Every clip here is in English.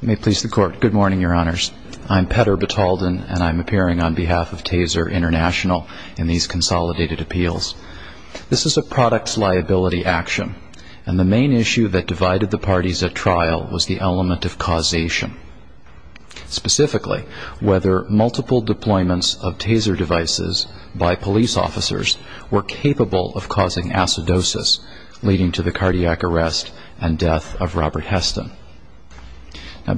May it please the Court, good morning, Your Honors. I'm Petter Batalden and I'm appearing on behalf of Taser International in these consolidated appeals. This is a products liability action and the main issue that divided the parties at trial was the element of causation. Specifically, whether multiple deployments of Taser devices by police officers were capable of causing acidosis leading to the cardiac arrest and death of Robert Heston.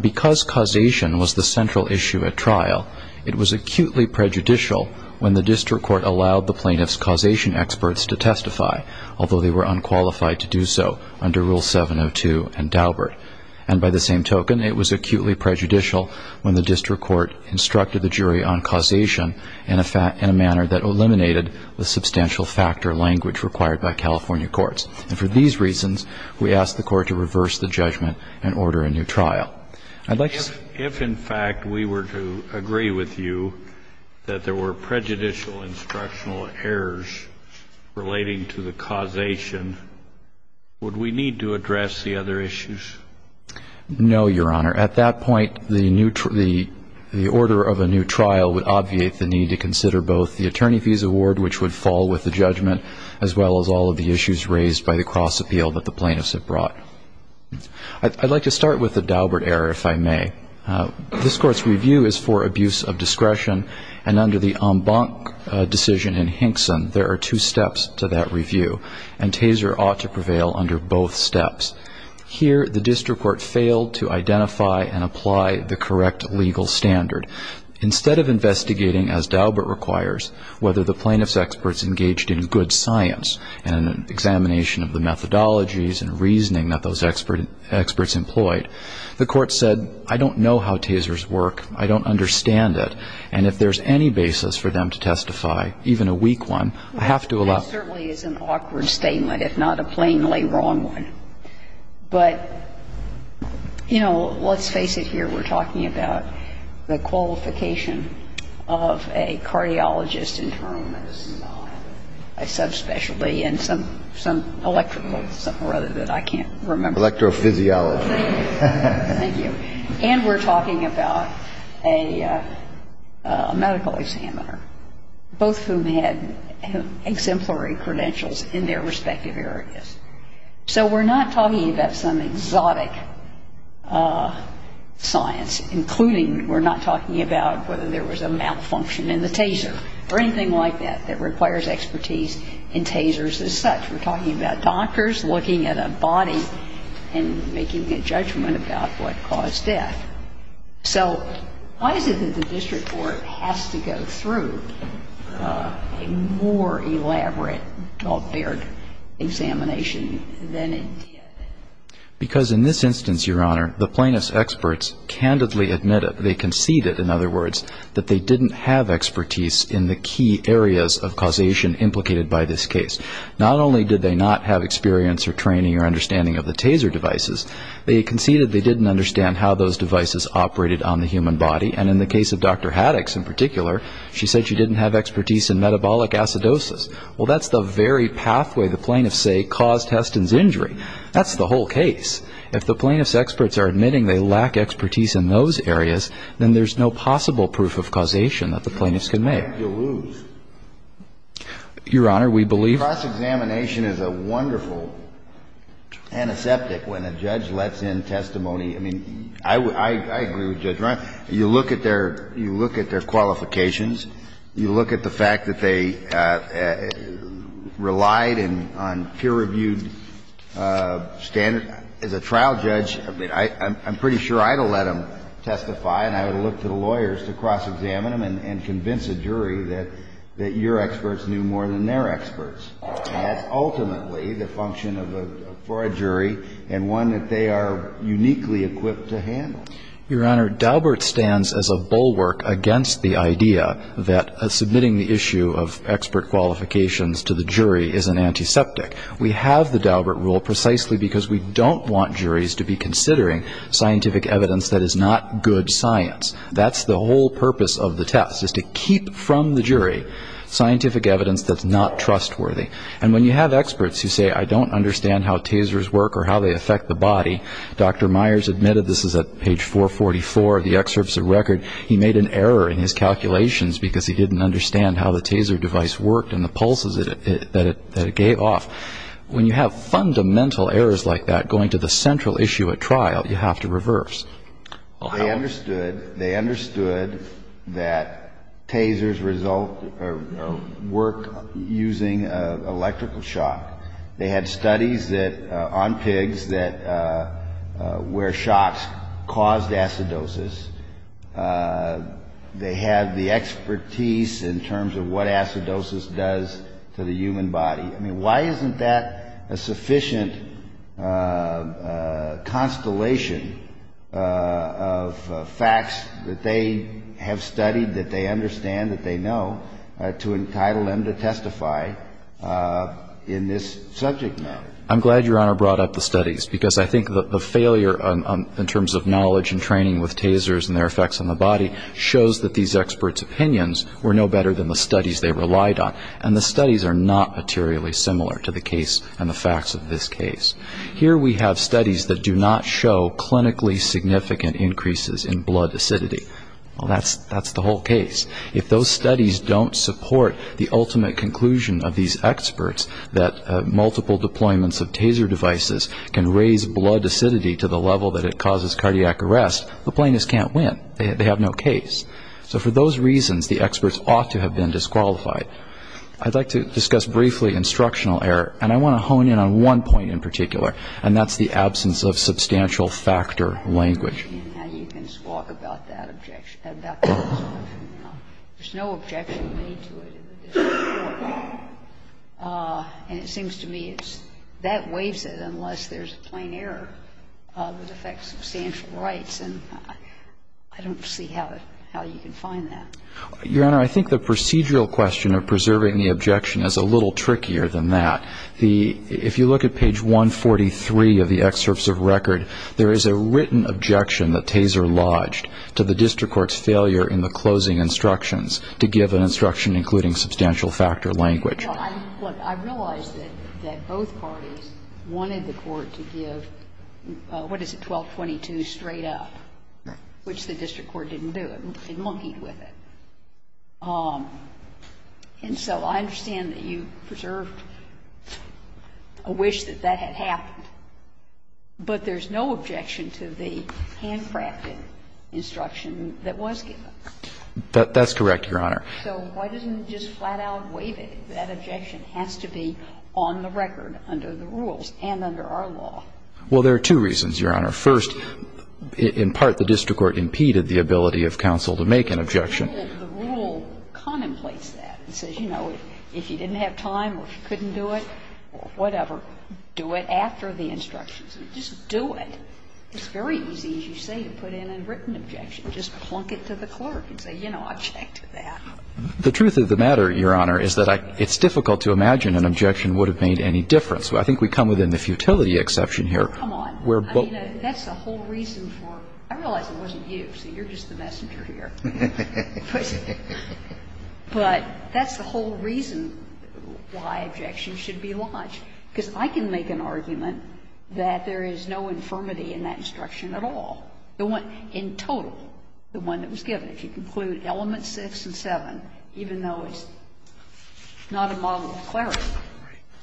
Because causation was the central issue at trial, it was acutely prejudicial when the district court allowed the plaintiff's causation experts to testify, although they were unqualified to do so under Rule 702 and Daubert. And by the same token, it was acutely prejudicial when the district court instructed the jury on causation in a manner that eliminated the substantial factor of language required by California courts. And for these reasons, we ask the Court to reverse the judgment and order a new trial. If in fact we were to agree with you that there were prejudicial instructional errors relating to the causation, would we need to address the other issues? No, Your Honor. At that point, the order of a new trial would obviate the need to consider both the attorney fees award, which would fall with the judgment, as well as all of the issues raised by the cross-appeal that the plaintiffs had brought. I'd like to start with the Daubert error, if I may. This Court's review is for abuse of discretion, and under the Embank decision in Hinkson, there are two steps to that review, and Taser ought to prevail under both steps. Here, the district court failed to identify and apply the correct legal standard. Instead of investigating, as Daubert requires, whether the plaintiff's experts engaged in good science and an examination of the methodologies and reasoning that those experts employed, the Court said, I don't know how tasers work. I don't understand it. And if there's any basis for them to testify, even a weak one, I have to allow them to testify. That certainly is an awkward statement, if not a plainly wrong one. But, you know, let's face it here. We're talking about the qualification of a cardiologist, internal medicine, a subspecialty, and some electrical, something or other that I can't remember. Electrophysiology. Thank you. And we're talking about a medical examiner, both of whom had exemplary credentials in their respective areas. So we're not talking about some exotic science, including we're not talking about whether there was a malfunction in the taser or anything like that that requires expertise in tasers as such. We're talking about doctors looking at a body and making a judgment about what caused death. So why is it that the district court has to go through a more elaborate, more varied examination than it did? Because in this instance, Your Honor, the plaintiff's experts candidly admitted, they conceded, in other words, that they didn't have expertise in the key areas of causation implicated by this case. Not only did they not have experience or training or understanding of the taser devices, they conceded they didn't understand how those devices operated on the human body. And in the case of Dr. Haddix in particular, she said she didn't have expertise in metabolic acidosis. Well, that's the very pathway the plaintiff, say, caused Heston's injury. That's the whole case. If the plaintiff's experts are admitting they lack expertise in those areas, then there's no possible proof of causation that the plaintiff's can make. You lose. Your Honor, we believe- Cross-examination is a wonderful antiseptic when a judge lets in testimony. I mean, I agree with Judge Ryan. You look at their qualifications. You look at the fact that they relied on peer-reviewed standards. As a trial judge, I'm pretty sure I'd have let them testify, and I would have looked to the lawyers to cross-examine them and convince a jury that your experts knew more than their experts. And that's ultimately the function for a jury and one that they are uniquely equipped to handle. Your Honor, Daubert stands as a bulwark against the idea that submitting the issue of expert qualifications to the jury is an antiseptic. We have the Daubert rule precisely because we don't want juries to be considering scientific evidence that is not good science. That's the whole purpose of the test, is to keep from the jury scientific evidence that's not trustworthy. And when you have experts who say, I don't understand how tasers work or how they affect the body, Dr. Myers admitted, this is at page 444 of the excerpts of record, he made an error in his calculations because he didn't understand how the taser device worked and the pulses that it gave off. When you have fundamental errors like that going to the central issue at trial, you have to reverse. They understood that tasers work using electrical shock. They had studies on pigs where shocks caused acidosis. They had the expertise in terms of what acidosis does to the human body. I mean, why isn't that a sufficient constellation of facts that they have studied, that they understand, that they know, to entitle them to testify in this subject matter? I'm glad Your Honor brought up the studies because I think the failure in terms of knowledge and training with tasers and their effects on the body shows that these experts' opinions were no better than the studies they relied on. And the studies are not materially similar to the case and the facts of this case. Here we have studies that do not show clinically significant increases in blood acidity. Well, that's the whole case. If those studies don't support the ultimate conclusion of these experts that multiple deployments of taser devices can raise blood acidity to the level that it causes cardiac arrest, the plaintiffs can't win. They have no case. So for those reasons, the experts ought to have been disqualified. I'd like to discuss briefly instructional error. And I want to hone in on one point in particular, and that's the absence of substantial factor language. Your Honor, I think the procedural question of preserving the objection is a little trickier than that. The — if you look at page 143 of the excerpts of record, there is a written objection than that. I realize that both parties wanted the court to give, what is it, 1222 straight up, which the district court didn't do. It monkeyed with it. And so I understand that you preserved a wish that that had happened, but there's no objection to the handling of the case. And the district court did not have the ability to make an objection to the handcrafted instruction that was given. That's correct, Your Honor. So why doesn't it just flat-out waive it? That objection has to be on the record under the rules and under our law. Well, there are two reasons, Your Honor. First, in part, the district court impeded the ability of counsel to make an objection. The rule contemplates that. It says, you know, if you didn't have time or if you couldn't do it or whatever, do it after the instructions. Just do it. It's very easy, as you say, to put in a written objection. Just plunk it to the clerk and say, you know, I object to that. The truth of the matter, Your Honor, is that it's difficult to imagine an objection would have made any difference. I think we come within the futility exception here. Come on. I mean, that's the whole reason for it. I realize it wasn't you, so you're just the messenger here. But that's the whole reason why objections should be lodged. Because I can make an argument that there is no infirmity in that instruction at all. In total, the one that was given. If you conclude element 6 and 7, even though it's not a model of clarity,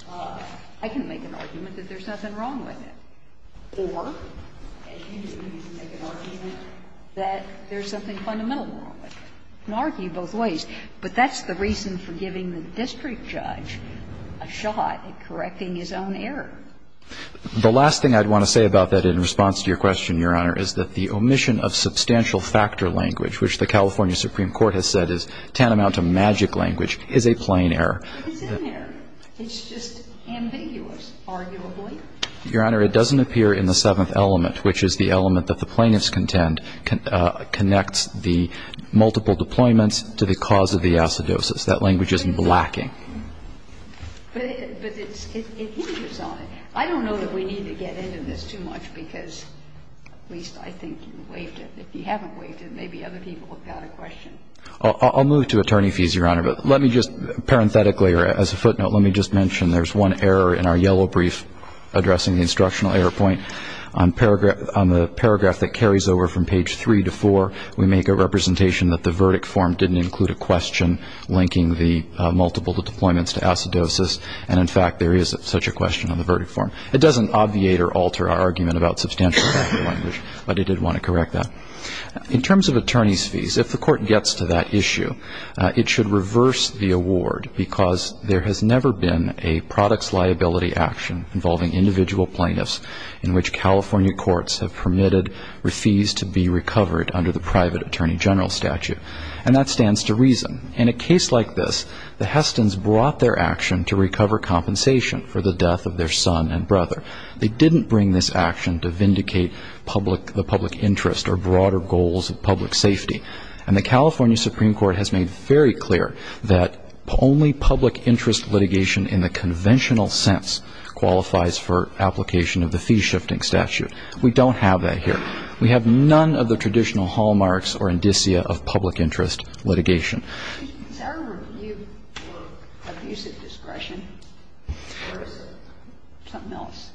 I can make an argument that there's nothing wrong with it. Or I can make an argument that there's something fundamentally wrong with it. I can argue both ways. But that's the reason for giving the district judge a shot at correcting his own error. The last thing I'd want to say about that in response to your question, Your Honor, is that the omission of substantial factor language, which the California Supreme Court has said is tantamount to magic language, is a plain error. But it's in there. It's just ambiguous, arguably. Your Honor, it doesn't appear in the seventh element, which is the element that the plaintiffs contend connects the multiple deployments to the cause of the acidosis. That language is lacking. But it hinges on it. I don't know that we need to get into this too much, because at least I think you waived it. If you haven't waived it, maybe other people have got a question. I'll move to attorney fees, Your Honor. But let me just parenthetically, or as a footnote, let me just mention there's one error in our yellow brief addressing the instructional error point. On the paragraph that carries over from page three to four, we make a representation that the verdict form didn't include a question linking the multiple deployments to acidosis. And, in fact, there is such a question on the verdict form. It doesn't obviate or alter our argument about substantial factor language, but it did want to correct that. In terms of attorney's fees, if the court gets to that issue, it should reverse the award, because there has never been a products liability action involving individual plaintiffs in which California courts have permitted fees to be recovered under the private attorney general statute. And that stands to reason. In a case like this, the Hestons brought their action to recover compensation for the death of their son and brother. They didn't bring this action to vindicate the public interest or broader goals of public safety. And the California Supreme Court has made very clear that only public interest litigation in the conventional sense qualifies for application of the fee shifting statute. We don't have that here. We have none of the traditional hallmarks or indicia of public interest litigation. Is there a review for abusive discretion or is it something else?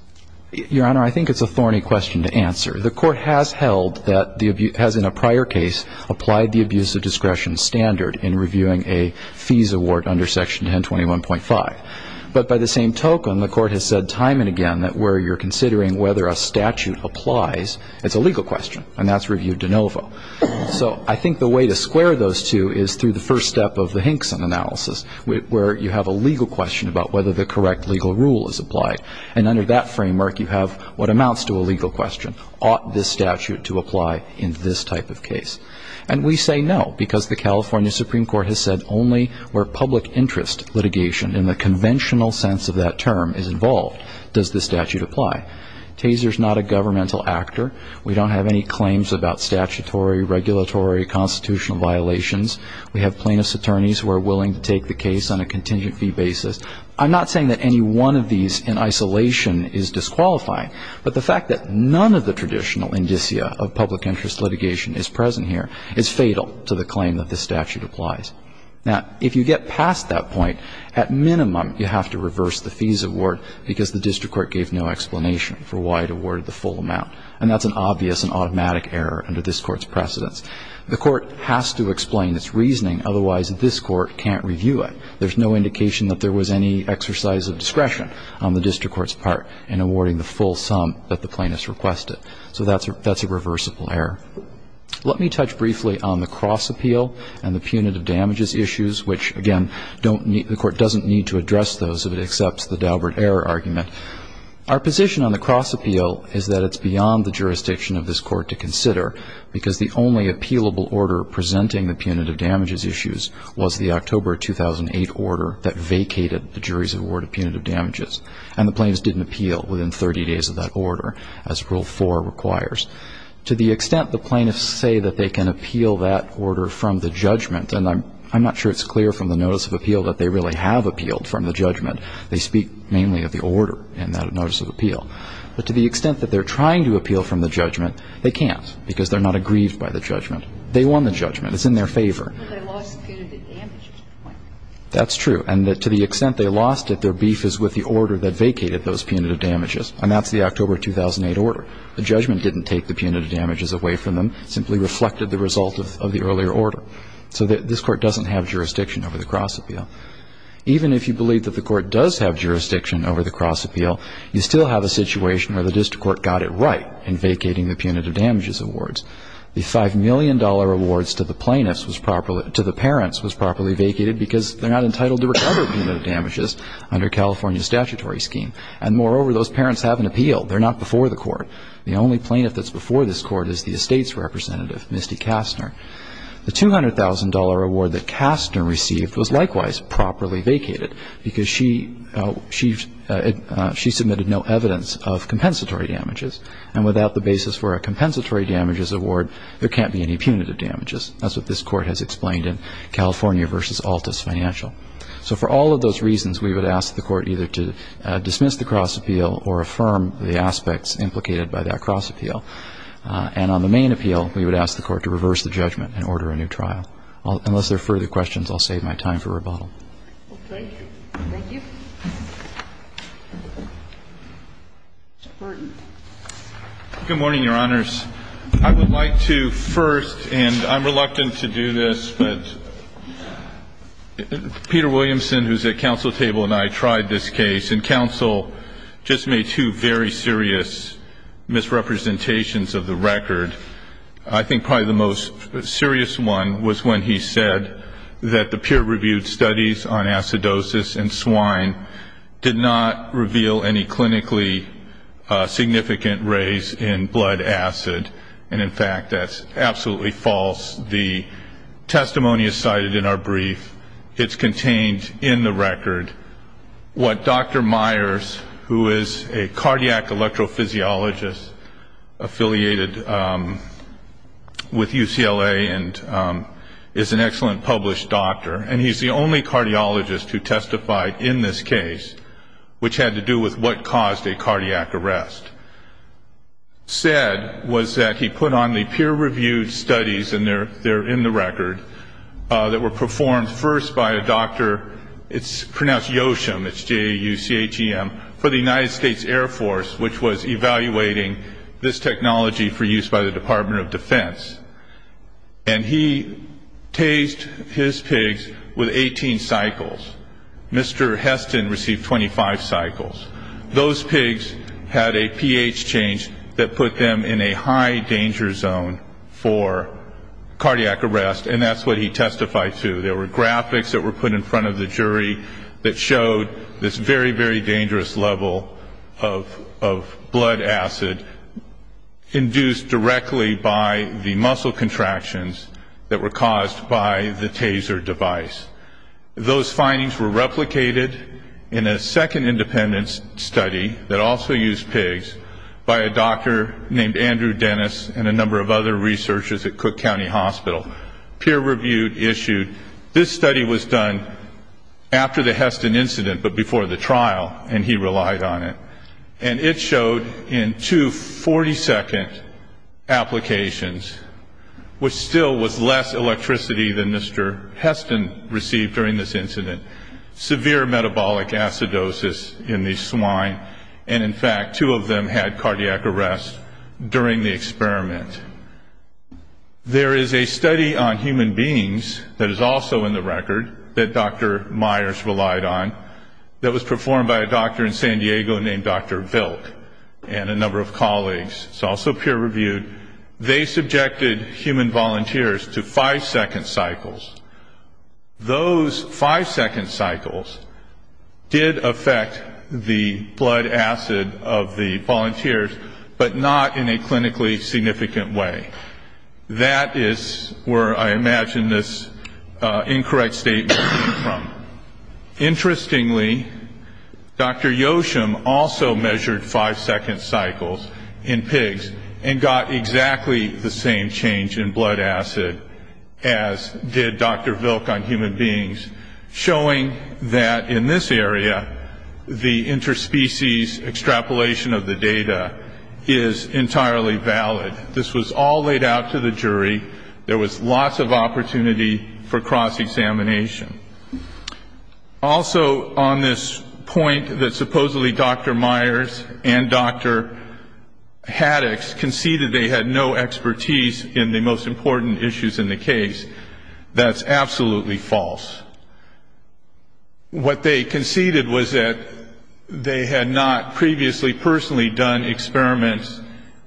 Your Honor, I think it's a thorny question to answer. The court has held that the abuse has in a prior case applied the abusive discretion standard in reviewing a fees award under section 1021.5. But by the same token, the court has said time and again that where you're considering whether a statute applies, it's a legal question, and that's review de novo. So I think the way to square those two is through the first step of the Hinkson analysis, where you have a legal question about whether the correct legal rule is applied. And under that framework, you have what amounts to a legal question. Ought this statute to apply in this type of case? And we say no, because the California Supreme Court has said only where public interest litigation in the conventional sense of that term is involved does this statute apply. Taser is not a governmental actor. We don't have any claims about statutory, regulatory, constitutional violations. We have plaintiff's attorneys who are willing to take the case on a contingent fee basis. I'm not saying that any one of these in isolation is disqualifying, but the fact that none of the traditional indicia of public interest litigation is present here is fatal to the claim that this statute applies. Now, if you get past that point, at minimum, you have to reverse the fees award because the district court gave no explanation for why it awarded the full amount. And that's an obvious and automatic error under this Court's precedence. The Court has to explain its reasoning. Otherwise, this Court can't review it. There's no indication that there was any exercise of discretion on the district court's part in awarding the full sum that the plaintiff's requested. So that's a reversible error. Let me touch briefly on the cross appeal and the punitive damages issues, which, again, the Court doesn't need to address those if it accepts the Daubert error argument. Our position on the cross appeal is that it's beyond the jurisdiction of this Court to consider because the only appealable order presenting the punitive damages issues was the October 2008 order that vacated the jury's award of punitive damages. And the plaintiffs didn't appeal within 30 days of that order, as Rule 4 requires. To the extent the plaintiffs say that they can appeal that order from the judgment and I'm not sure it's clear from the notice of appeal that they really have appealed from the judgment. They speak mainly of the order in that notice of appeal. But to the extent that they're trying to appeal from the judgment, they can't because they're not aggrieved by the judgment. They won the judgment. It's in their favor. That's true. And to the extent they lost it, their beef is with the order that vacated those punitive damages, and that's the October 2008 order. The judgment didn't take the punitive damages away from them. It simply reflected the result of the earlier order. So this Court doesn't have jurisdiction over the cross appeal. Even if you believe that the Court does have jurisdiction over the cross appeal, you still have a situation where the district court got it right in vacating the punitive damages awards. The $5 million awards to the parents was properly vacated because they're not entitled to recover punitive damages under California's statutory scheme. And moreover, those parents haven't appealed. They're not before the Court. The only plaintiff that's before this Court is the estate's representative, Misty Kastner. The $200,000 award that Kastner received was likewise properly vacated because she submitted no evidence of compensatory damages. And without the basis for a compensatory damages award, there can't be any punitive damages. That's what this Court has explained in California v. Altus Financial. So for all of those reasons, we would ask the Court either to dismiss the cross appeal or affirm the aspects implicated by that cross appeal. And on the main appeal, we would ask the Court to reverse the judgment and order a new trial. Unless there are further questions, I'll save my time for rebuttal. Thank you. Thank you. Mr. Burton. Good morning, Your Honors. I would like to first, and I'm reluctant to do this, but Peter Williamson, who's at counsel table, and I tried this case, and counsel just made two very serious misrepresentations of the record. I think probably the most serious one was when he said that the peer-reviewed studies on acidosis in swine did not reveal any clinically significant raise in blood acid. And, in fact, that's absolutely false. The testimony is cited in our brief. It's contained in the record. What Dr. Myers, who is a cardiac electrophysiologist affiliated with UCLA and is an excellent published doctor, and he's the only cardiologist who testified in this case, which had to do with what caused a cardiac arrest, said was that he put on the peer-reviewed studies, and they're in the record, that were performed first by a doctor, it's pronounced Yoshum, it's J-A-U-C-H-E-M, for the United States Air Force, which was evaluating this technology for use by the Department of Defense. And he tased his pigs with 18 cycles. Mr. Heston received 25 cycles. Those pigs had a pH change that put them in a high danger zone for cardiac arrest, and that's what he testified to. There were graphics that were put in front of the jury that showed this very, very dangerous level of blood acid induced directly by the muscle contractions that were caused by the taser device. Those findings were replicated in a second independent study that also used pigs by a doctor named Andrew Dennis and a number of other researchers at peer-reviewed issued. This study was done after the Heston incident, but before the trial, and he relied on it. And it showed in two 40-second applications, which still was less electricity than Mr. Heston received during this incident, severe metabolic acidosis in the swine, and in fact two of them had cardiac arrest during the experiment. There is a study on human beings that is also in the record that Dr. Myers relied on that was performed by a doctor in San Diego named Dr. Vilk and a number of colleagues. It's also peer-reviewed. They subjected human volunteers to five-second cycles. Those five-second cycles did affect the blood acid of the volunteers, but not in a clinically significant way. That is where I imagine this incorrect statement came from. Interestingly, Dr. Yoshim also measured five-second cycles in pigs and got exactly the same change in blood acid as did Dr. Vilk on human beings, showing that in this area the interspecies extrapolation of the data is entirely valid. This was all laid out to the jury. There was lots of opportunity for cross-examination. Also on this point that supposedly Dr. Myers and Dr. Haddox conceded they had no expertise in the most important issues in the case, that's absolutely false. What they conceded was that they had not previously personally done experiments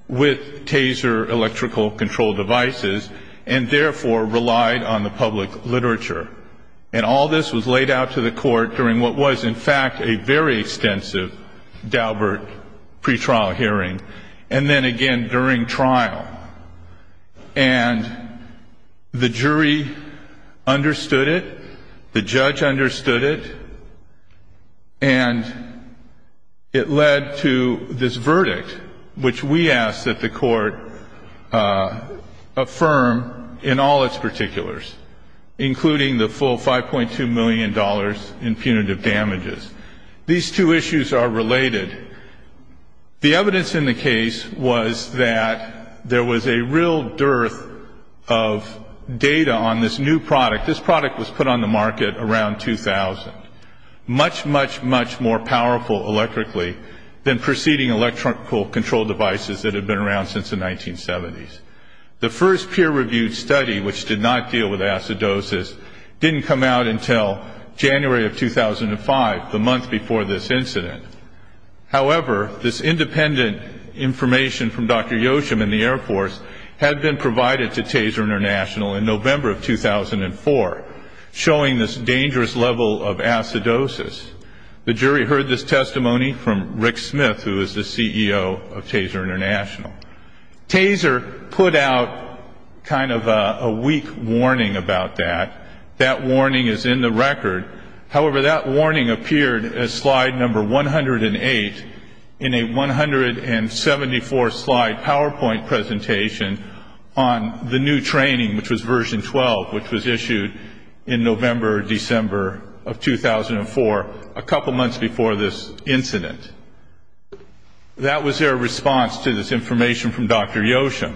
with taser electrical control devices and therefore relied on the public literature. And all this was laid out to the court during what was, in fact, a very extensive Daubert pretrial hearing. And then again during trial. And the jury understood it. The judge understood it. And it led to this verdict, which we ask that the court affirm in all its particulars, including the full $5.2 million in punitive damages. These two issues are related. The evidence in the case was that there was a real dearth of data on this new product. This product was put on the market around 2000. Much, much, much more powerful electrically than preceding electrical control devices that had been around since the 1970s. The first peer-reviewed study, which did not deal with acidosis, didn't come out until January of 2005, the month before this incident. However, this independent information from Dr. Yoshim in the Air Force had been provided to Taser International in November of 2004, showing this dangerous level of acidosis. The jury heard this testimony from Rick Smith, who is the CEO of Taser International. Taser put out kind of a weak warning about that. That warning is in the record. However, that warning appeared as slide number 108 in a 174-slide PowerPoint presentation on the new training, which was version 12, which was issued in November or December of 2004, a couple months before this incident. That was their response to this information from Dr. Yoshim.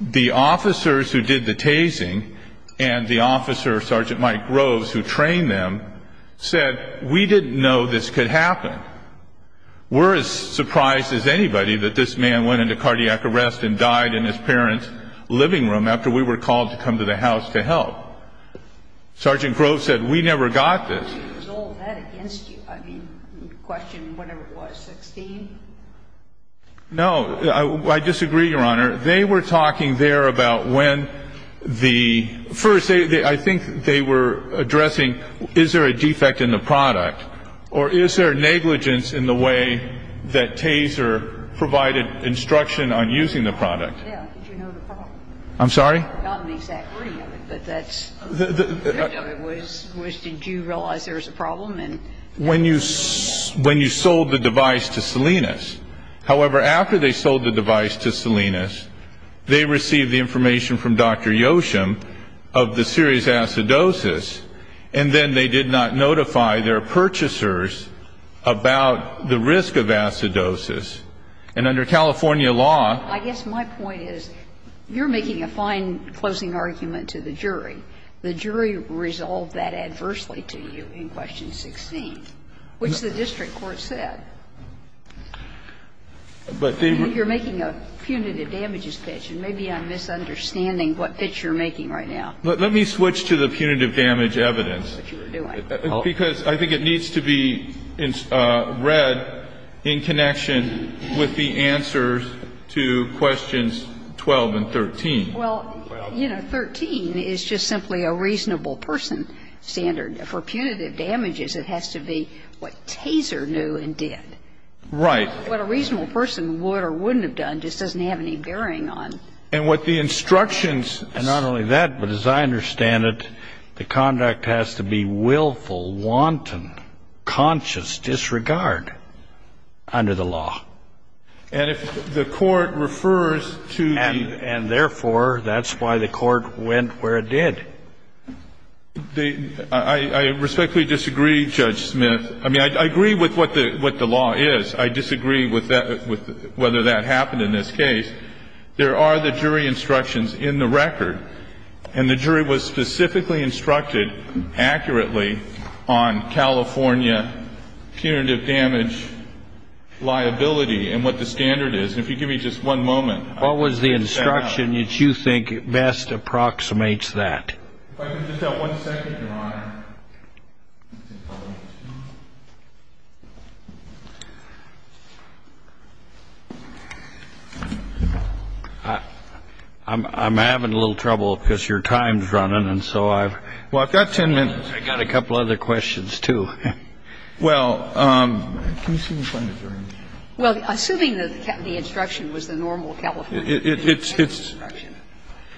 The officers who did the tasing and the officer, Sergeant Mike Groves, who trained them, said, we didn't know this could happen. We're as surprised as anybody that this man went into cardiac arrest and died in his parents' living room after we were called to come to the house to help. Sergeant Groves said, we never got this. I mean, question whatever it was, 16? No, I disagree, Your Honor. They were talking there about when the first, I think they were addressing, is there a defect in the product, or is there negligence in the way that Taser provided instruction on using the product? Yeah, did you know the problem? I'm sorry? Not an exact wording of it, but that's the way it was. Did you realize there was a problem? When you sold the device to Salinas. However, after they sold the device to Salinas, they received the information from Dr. Yoshim of the serious acidosis, and then they did not notify their purchasers about the risk of acidosis. And under California law ---- I guess my point is, you're making a fine closing argument to the jury. The jury resolved that adversely to you in question 16, which the district court said. But they were ---- You're making a punitive damages pitch, and maybe I'm misunderstanding what pitch you're making right now. Let me switch to the punitive damage evidence. Because I think it needs to be read in connection with the answers to question 12 and 13. Well, you know, 13 is just simply a reasonable person standard. For punitive damages, it has to be what Taser knew and did. Right. What a reasonable person would or wouldn't have done just doesn't have any bearing on ---- And what the instructions ---- And not only that, but as I understand it, the conduct has to be willful, wanton, conscious disregard under the law. And if the court refers to the ---- And therefore, that's why the court went where it did. The ---- I respectfully disagree, Judge Smith. I mean, I agree with what the law is. I disagree with whether that happened in this case. There are the jury instructions in the record. And the jury was specifically instructed accurately on California punitive damage liability and what the standard is. And if you give me just one moment ---- What was the instruction that you think best approximates that? If I could just have one second, Your Honor. I'm having a little trouble because your time is running. And so I've ---- Well, I've got ten minutes. I've got a couple other questions, too. Well, can you see me find it, Your Honor? Well, assuming that the instruction was the normal California punitive damage instruction.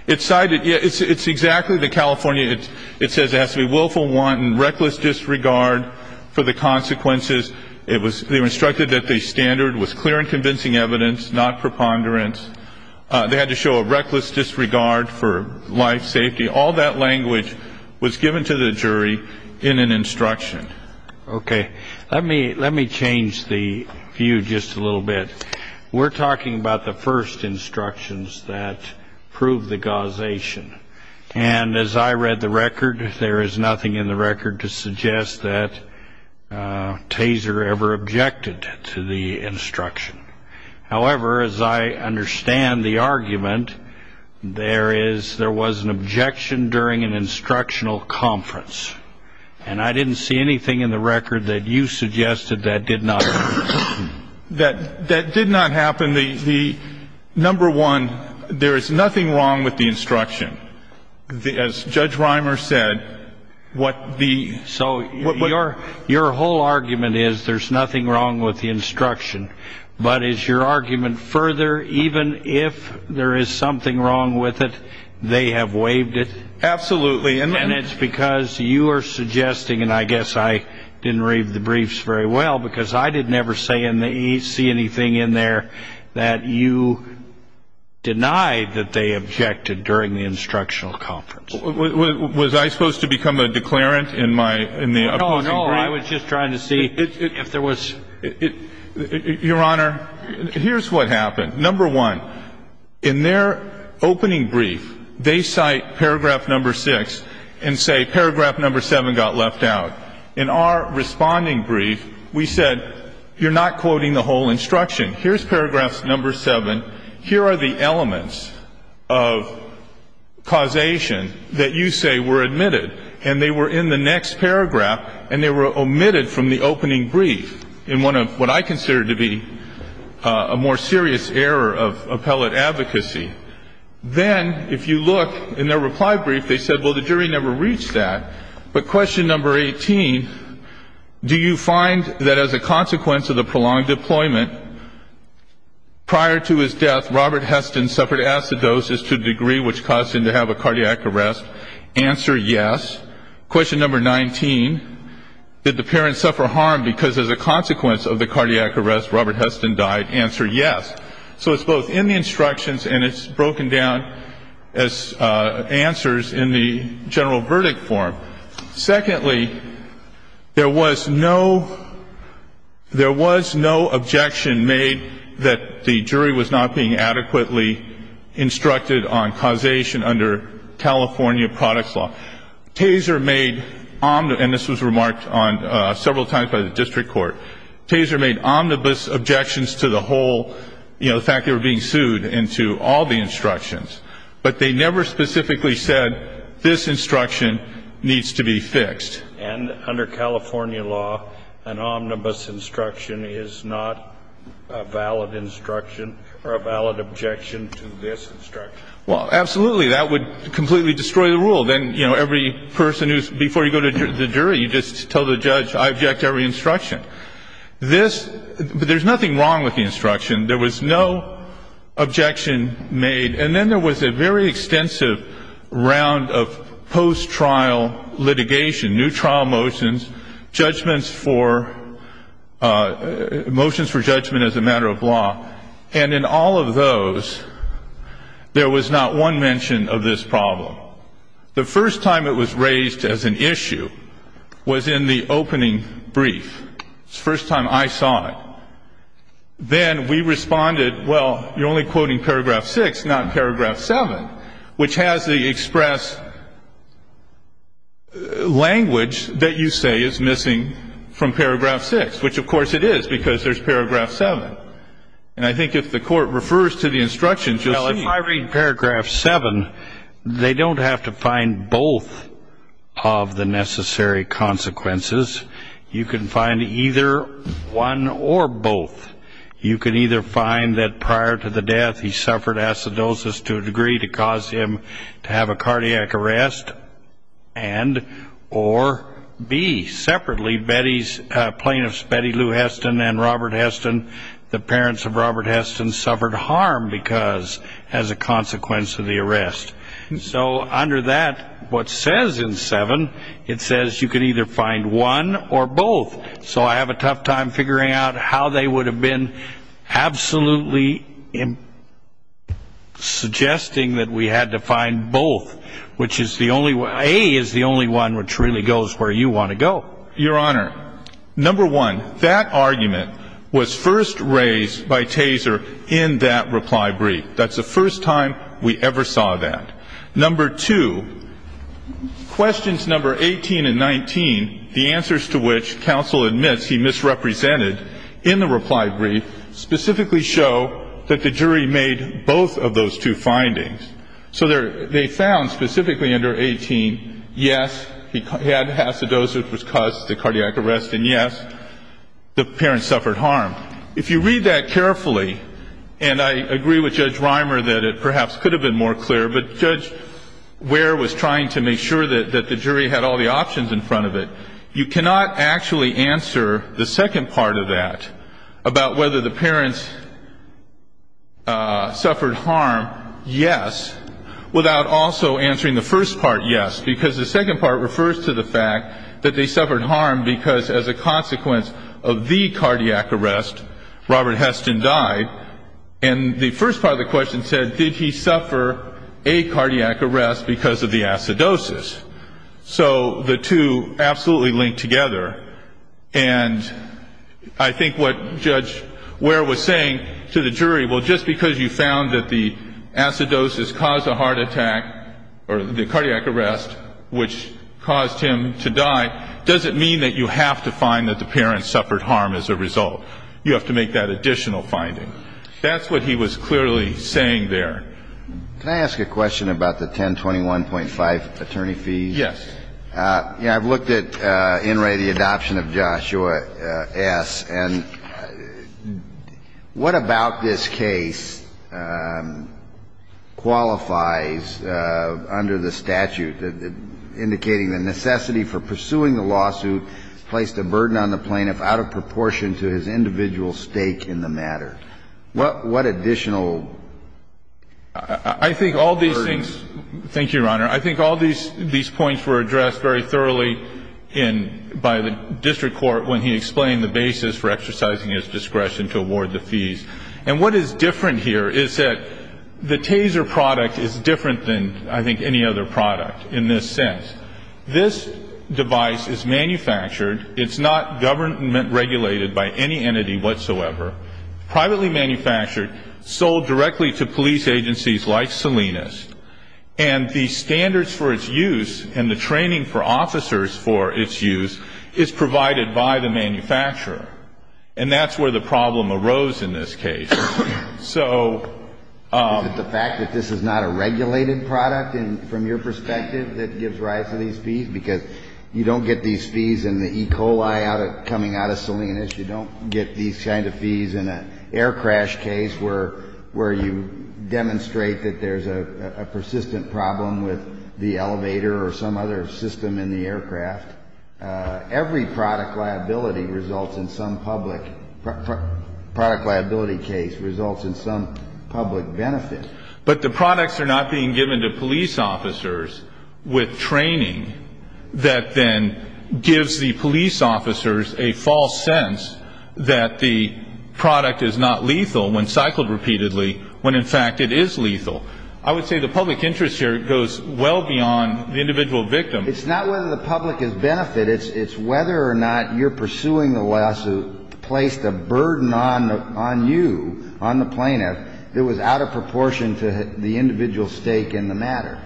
It's cited. It's exactly the California ---- It says it has to be willful, wanton, reckless disregard for the consequences. It was ---- They were instructed that the standard was clear and convincing evidence, not preponderance. They had to show a reckless disregard for life, safety. All that language was given to the jury in an instruction. Okay. Let me change the view just a little bit. We're talking about the first instructions that prove the causation. And as I read the record, there is nothing in the record to suggest that Taser ever objected to the instruction. However, as I understand the argument, there was an objection during an instructional conference. And I didn't see anything in the record that you suggested that did not occur. That did not happen. The number one, there is nothing wrong with the instruction. As Judge Reimer said, what the ---- So your whole argument is there's nothing wrong with the instruction. But is your argument further, even if there is something wrong with it, they have waived it? Absolutely. And it's because you are suggesting, and I guess I didn't read the briefs very well, because I didn't ever see anything in there that you denied that they objected during the instructional conference. Was I supposed to become a declarant in the opposing brief? No, no. I was just trying to see if there was ---- Your Honor, here's what happened. Number one, in their opening brief, they cite paragraph number six and say paragraph number seven got left out. In our responding brief, we said you're not quoting the whole instruction. Here's paragraph number seven. Here are the elements of causation that you say were admitted. And they were in the next paragraph, and they were omitted from the opening brief in what I consider to be a more serious error of appellate advocacy. Then, if you look in their reply brief, they said, well, the jury never reached that. But question number 18, do you find that as a consequence of the prolonged deployment prior to his death, Robert Heston suffered acidosis to a degree which caused him to have a cardiac arrest? Answer, yes. Question number 19, did the parents suffer harm because as a consequence of the cardiac arrest, Robert Heston died? Answer, yes. So it's both in the instructions, and it's broken down as answers in the general verdict form. Secondly, there was no objection made that the jury was not being adequately instructed on causation under California products law. Taser made, and this was remarked on several times by the district court, Taser made omnibus objections to the whole, you know, the fact they were being sued and to all the instructions. But they never specifically said this instruction needs to be fixed. And under California law, an omnibus instruction is not a valid instruction or a valid objection to this instruction. Well, absolutely. That would completely destroy the rule. Then, you know, every person who's before you go to the jury, you just tell the judge, I object to every instruction. This, there's nothing wrong with the instruction. There was no objection made. And then there was a very extensive round of post-trial litigation, new trial motions, judgments for, motions for judgment as a matter of law. And in all of those, there was not one mention of this problem. The first time it was raised as an issue was in the opening brief. It was the first time I saw it. Then we responded, well, you're only quoting paragraph 6, not paragraph 7, which has the express language that you say is missing from paragraph 6, which, of course, it is because there's paragraph 7. And I think if the court refers to the instructions, you'll see. Well, if I read paragraph 7, they don't have to find both of the necessary consequences. You can find either one or both. You can either find that prior to the death, he suffered acidosis to a degree to cause him to have a cardiac arrest and or B. Separately, Betty's plaintiffs, Betty Lou Heston and Robert Heston, the parents of Robert Heston suffered harm because as a consequence of the arrest. So under that, what says in 7, it says you can either find one or both. So I have a tough time figuring out how they would have been absolutely suggesting that we had to find both, which is the only way is the only one which really goes where you want to go. Your Honor, number one, that argument was first raised by Taser in that reply brief. That's the first time we ever saw that. Number two, questions number 18 and 19, the answers to which counsel admits he misrepresented in the reply brief, specifically show that the jury made both of those two findings. So they found specifically under 18, yes, he had acidosis which caused the cardiac arrest, and yes, the parents suffered harm. If you read that carefully, and I agree with Judge Reimer that it perhaps could have been more clear, but Judge Ware was trying to make sure that the jury had all the options in front of it. You cannot actually answer the second part of that about whether the parents suffered harm, yes, without also answering the first part, yes, because the second part refers to the fact that they suffered harm because as a consequence of the cardiac arrest, Robert Heston died. And the first part of the question said, did he suffer a cardiac arrest because of the acidosis? So the two absolutely link together, and I think what Judge Ware was saying to the jury, well, just because you found that the acidosis caused a heart attack or the cardiac arrest, which caused him to die, doesn't mean that you have to find that the parents suffered harm as a result. You have to make that additional finding. That's what he was clearly saying there. Can I ask a question about the 1021.5 attorney fee? Yes. I've looked at, in Ray, the adoption of Joshua S., and what about this case qualifies under the statute indicating the necessity for pursuing the lawsuit placed a burden on the plaintiff out of proportion to his individual stake in the matter? What additional burden? Thank you, Your Honor. I think all these points were addressed very thoroughly by the district court when he explained the basis for exercising his discretion to award the fees. And what is different here is that the Taser product is different than, I think, any other product in this sense. This device is manufactured. It's not government regulated by any entity whatsoever. Privately manufactured, sold directly to police agencies like Salinas. And the standards for its use and the training for officers for its use is provided by the manufacturer. And that's where the problem arose in this case. So the fact that this is not a regulated product from your perspective that gives rise to these fees? Because you don't get these fees in the E. coli coming out of Salinas. You don't get these kind of fees in an air crash case where you demonstrate that there's a persistent problem with the elevator or some other system in the aircraft. Every product liability results in some public benefit. But the products are not being given to police officers with training that then gives the police officers a false sense that the product is not lethal when cycled repeatedly, when, in fact, it is lethal. I would say the public interest here goes well beyond the individual victim. It's not whether the public has benefited. It's whether or not you're pursuing the lawsuit placed a burden on you, on the plaintiff, that was out of proportion to the individual's stake in the matter.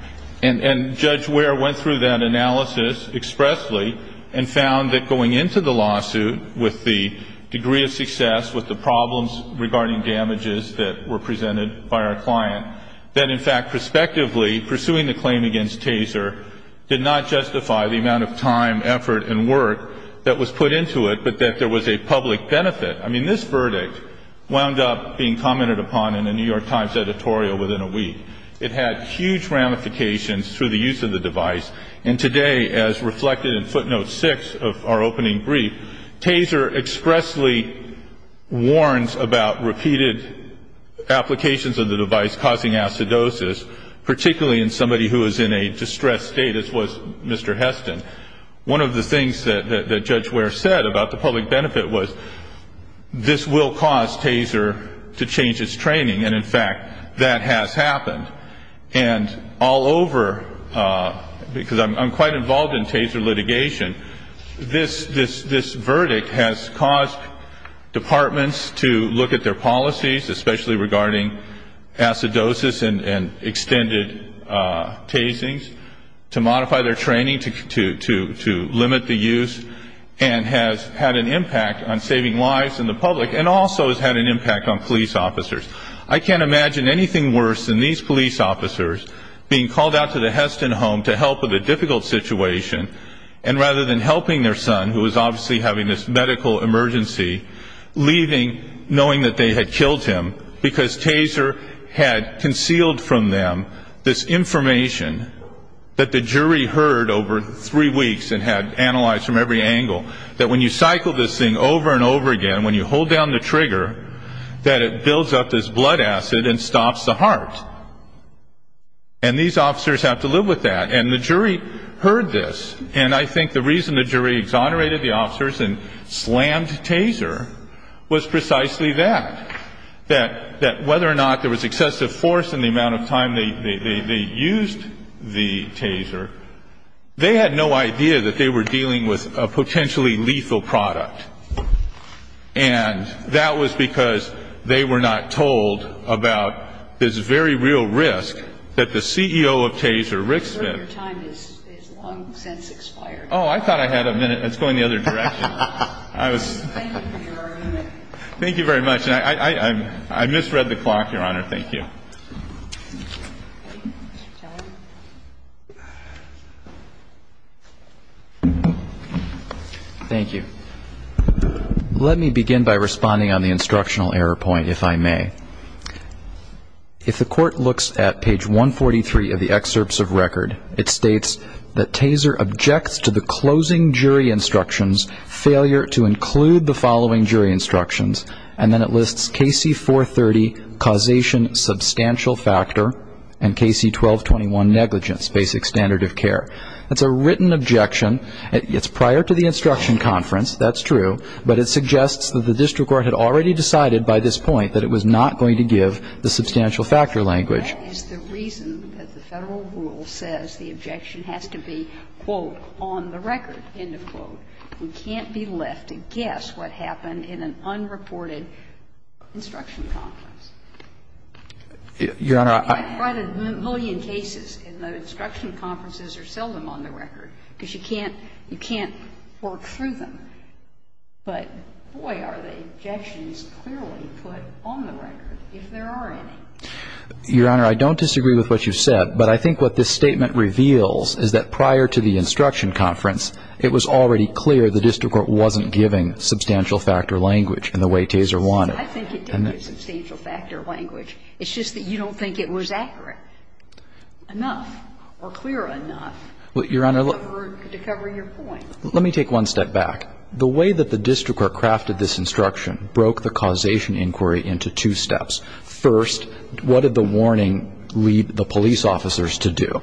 And Judge Ware went through that analysis expressly and found that going into the lawsuit with the degree of success, with the problems regarding damages that were presented by our client, that, in fact, prospectively, pursuing the claim against Taser did not justify the amount of time, effort, and work that was put into it, but that there was a public benefit. I mean, this verdict wound up being commented upon in a New York Times editorial within a week. It had huge ramifications through the use of the device. And today, as reflected in footnote 6 of our opening brief, Taser expressly warns about repeated applications of the device causing acidosis, particularly in somebody who is in a distressed state, as was Mr. Heston. One of the things that Judge Ware said about the public benefit was this will cause Taser to change its training, and, in fact, that has happened. And all over, because I'm quite involved in Taser litigation, this verdict has caused departments to look at their policies, especially regarding acidosis and extended tasings, to modify their training, to limit the use, and has had an impact on saving lives in the public and also has had an impact on police officers. I can't imagine anything worse than these police officers being called out to the Heston home to help with a difficult situation, and rather than helping their son, who was obviously having this medical emergency, leaving knowing that they had killed him because Taser had concealed from them this information that the jury heard over three weeks and had analyzed from every angle, that when you cycle this thing over and over again, when you hold down the trigger, that it builds up this blood acid and stops the heart. And these officers have to live with that. And the jury heard this. And I think the reason the jury exonerated the officers and slammed Taser was precisely that, that whether or not there was excessive force in the amount of time they used the Taser, they had no idea that they were dealing with a potentially lethal product. And that was because they were not told about this very real risk that the CEO of Taser, Rick Smith. Your time has long since expired. Oh, I thought I had a minute. It's going the other direction. Thank you for your argument. Thank you very much. And I misread the clock, Your Honor. Thank you. Thank you. Let me begin by responding on the instructional error point, if I may. If the court looks at page 143 of the excerpts of record, it states that Taser objects to the closing jury instructions, failure to include the following jury instructions. And then it lists KC 430, causation substantial factor, and KC 1221, negligence, basic standard of care. That's a written objection. It's prior to the instruction conference. That's true. But it suggests that the district court had already decided by this point that it was not going to give the substantial factor language. That is the reason that the Federal rule says the objection has to be, quote, on the record, end of quote. We can't be left to guess what happened in an unreported instruction conference. Your Honor, I can't write a million cases, and the instruction conferences are seldom on the record, because you can't work through them. But, boy, are the objections clearly put on the record, if there are any. Your Honor, I don't disagree with what you said. But I think what this statement reveals is that prior to the instruction conference, it was already clear the district court wasn't giving substantial factor language in the way Taser wanted. I think it didn't give substantial factor language. It's just that you don't think it was accurate enough or clear enough to cover your point. Let me take one step back. The way that the district court crafted this instruction broke the causation inquiry into two steps. First, what did the warning lead the police officers to do?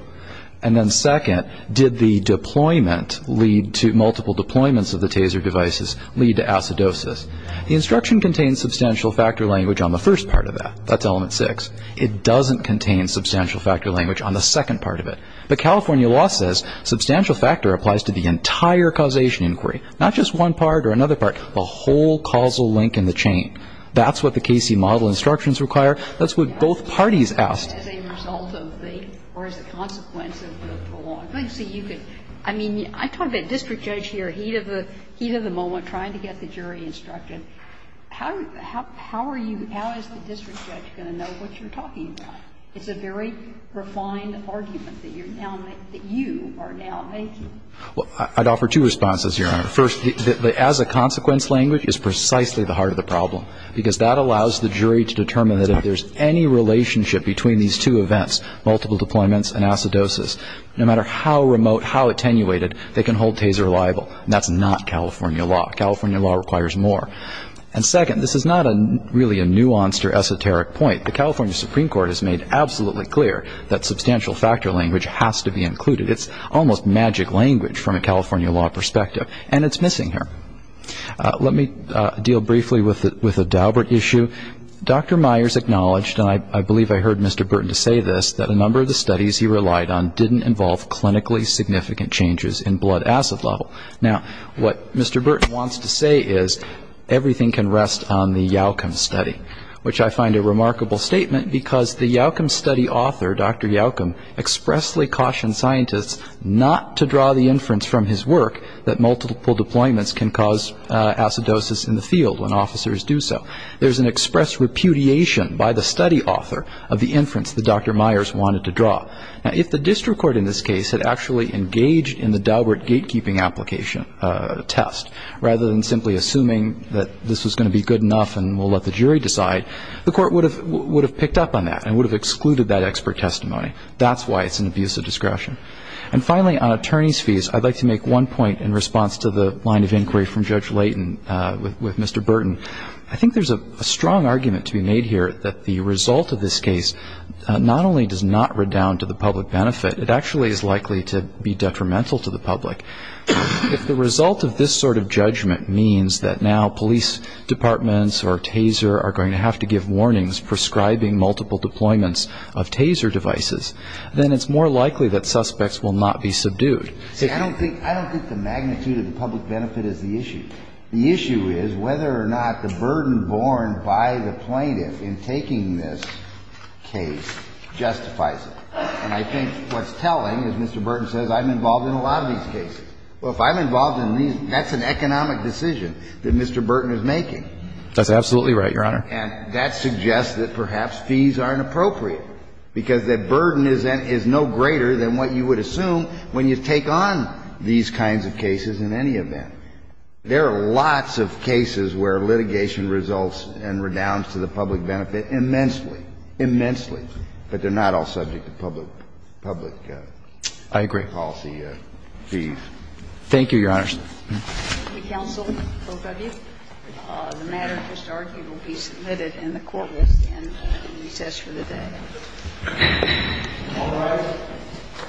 And then second, did the deployment lead to multiple deployments of the Taser devices lead to acidosis? The instruction contains substantial factor language on the first part of that. That's element six. It doesn't contain substantial factor language on the second part of it. But California law says substantial factor applies to the entire causation inquiry, not just one part or another part, the whole causal link in the chain. That's what the Cayce model instructions require. That's what both parties asked. As a result of the or as a consequence of the prolong. I mean, I talk about district judge here, heat of the moment, trying to get the jury instructed. How are you, how is the district judge going to know what you're talking about? It's a very refined argument that you're now making, that you are now making. Well, I'd offer two responses here, Your Honor. First, the as a consequence language is precisely the heart of the problem. Because that allows the jury to determine that if there's any relationship between these two events, multiple deployments and acidosis, no matter how remote, how attenuated, they can hold Taser liable. And that's not California law. California law requires more. And second, this is not really a nuanced or esoteric point. The California Supreme Court has made absolutely clear that substantial factor language has to be included. It's almost magic language from a California law perspective. And it's missing here. Let me deal briefly with the Daubert issue. Dr. Myers acknowledged, and I believe I heard Mr. Burton say this, that a number of the studies he relied on didn't involve clinically significant changes in blood acid level. Now, what Mr. Burton wants to say is, everything can rest on the Yalcum study, which I find a remarkable statement because the Yalcum study author, Dr. Yalcum, expressly cautioned scientists not to draw the inference from his work that multiple deployments can cause acidosis in the field when officers do so. There's an express repudiation by the study author of the inference that Dr. Myers wanted to draw. Now, if the district court in this case had actually engaged in the Daubert gatekeeping application test, rather than simply assuming that this was going to be good enough and we'll let the jury decide, the court would have picked up on that and would have excluded that expert testimony. That's why it's an abuse of discretion. And finally, on attorney's fees, I'd like to make one point in response to the line of inquiry from Judge Layton with Mr. Burton. I think there's a strong argument to be made here that the result of this case not only does not redound to the public benefit, it actually is likely to be detrimental to the public. If the result of this sort of judgment means that now police departments or TASER are going to have to give warnings prescribing multiple deployments of I don't think the magnitude of the public benefit is the issue. The issue is whether or not the burden borne by the plaintiff in taking this case justifies it. And I think what's telling is Mr. Burton says I'm involved in a lot of these cases. Well, if I'm involved in these, that's an economic decision that Mr. Burton is making. That's absolutely right, Your Honor. And that suggests that perhaps fees are inappropriate, because the burden is no greater than what you would assume when you take on these kinds of cases in any event. There are lots of cases where litigation results and redounds to the public benefit immensely, immensely, but they're not all subject to public, public policy fees. Thank you, Your Honor. Thank you, counsel. Both of you. The matter, historically, will be submitted in the court list in recess for the day. All rise.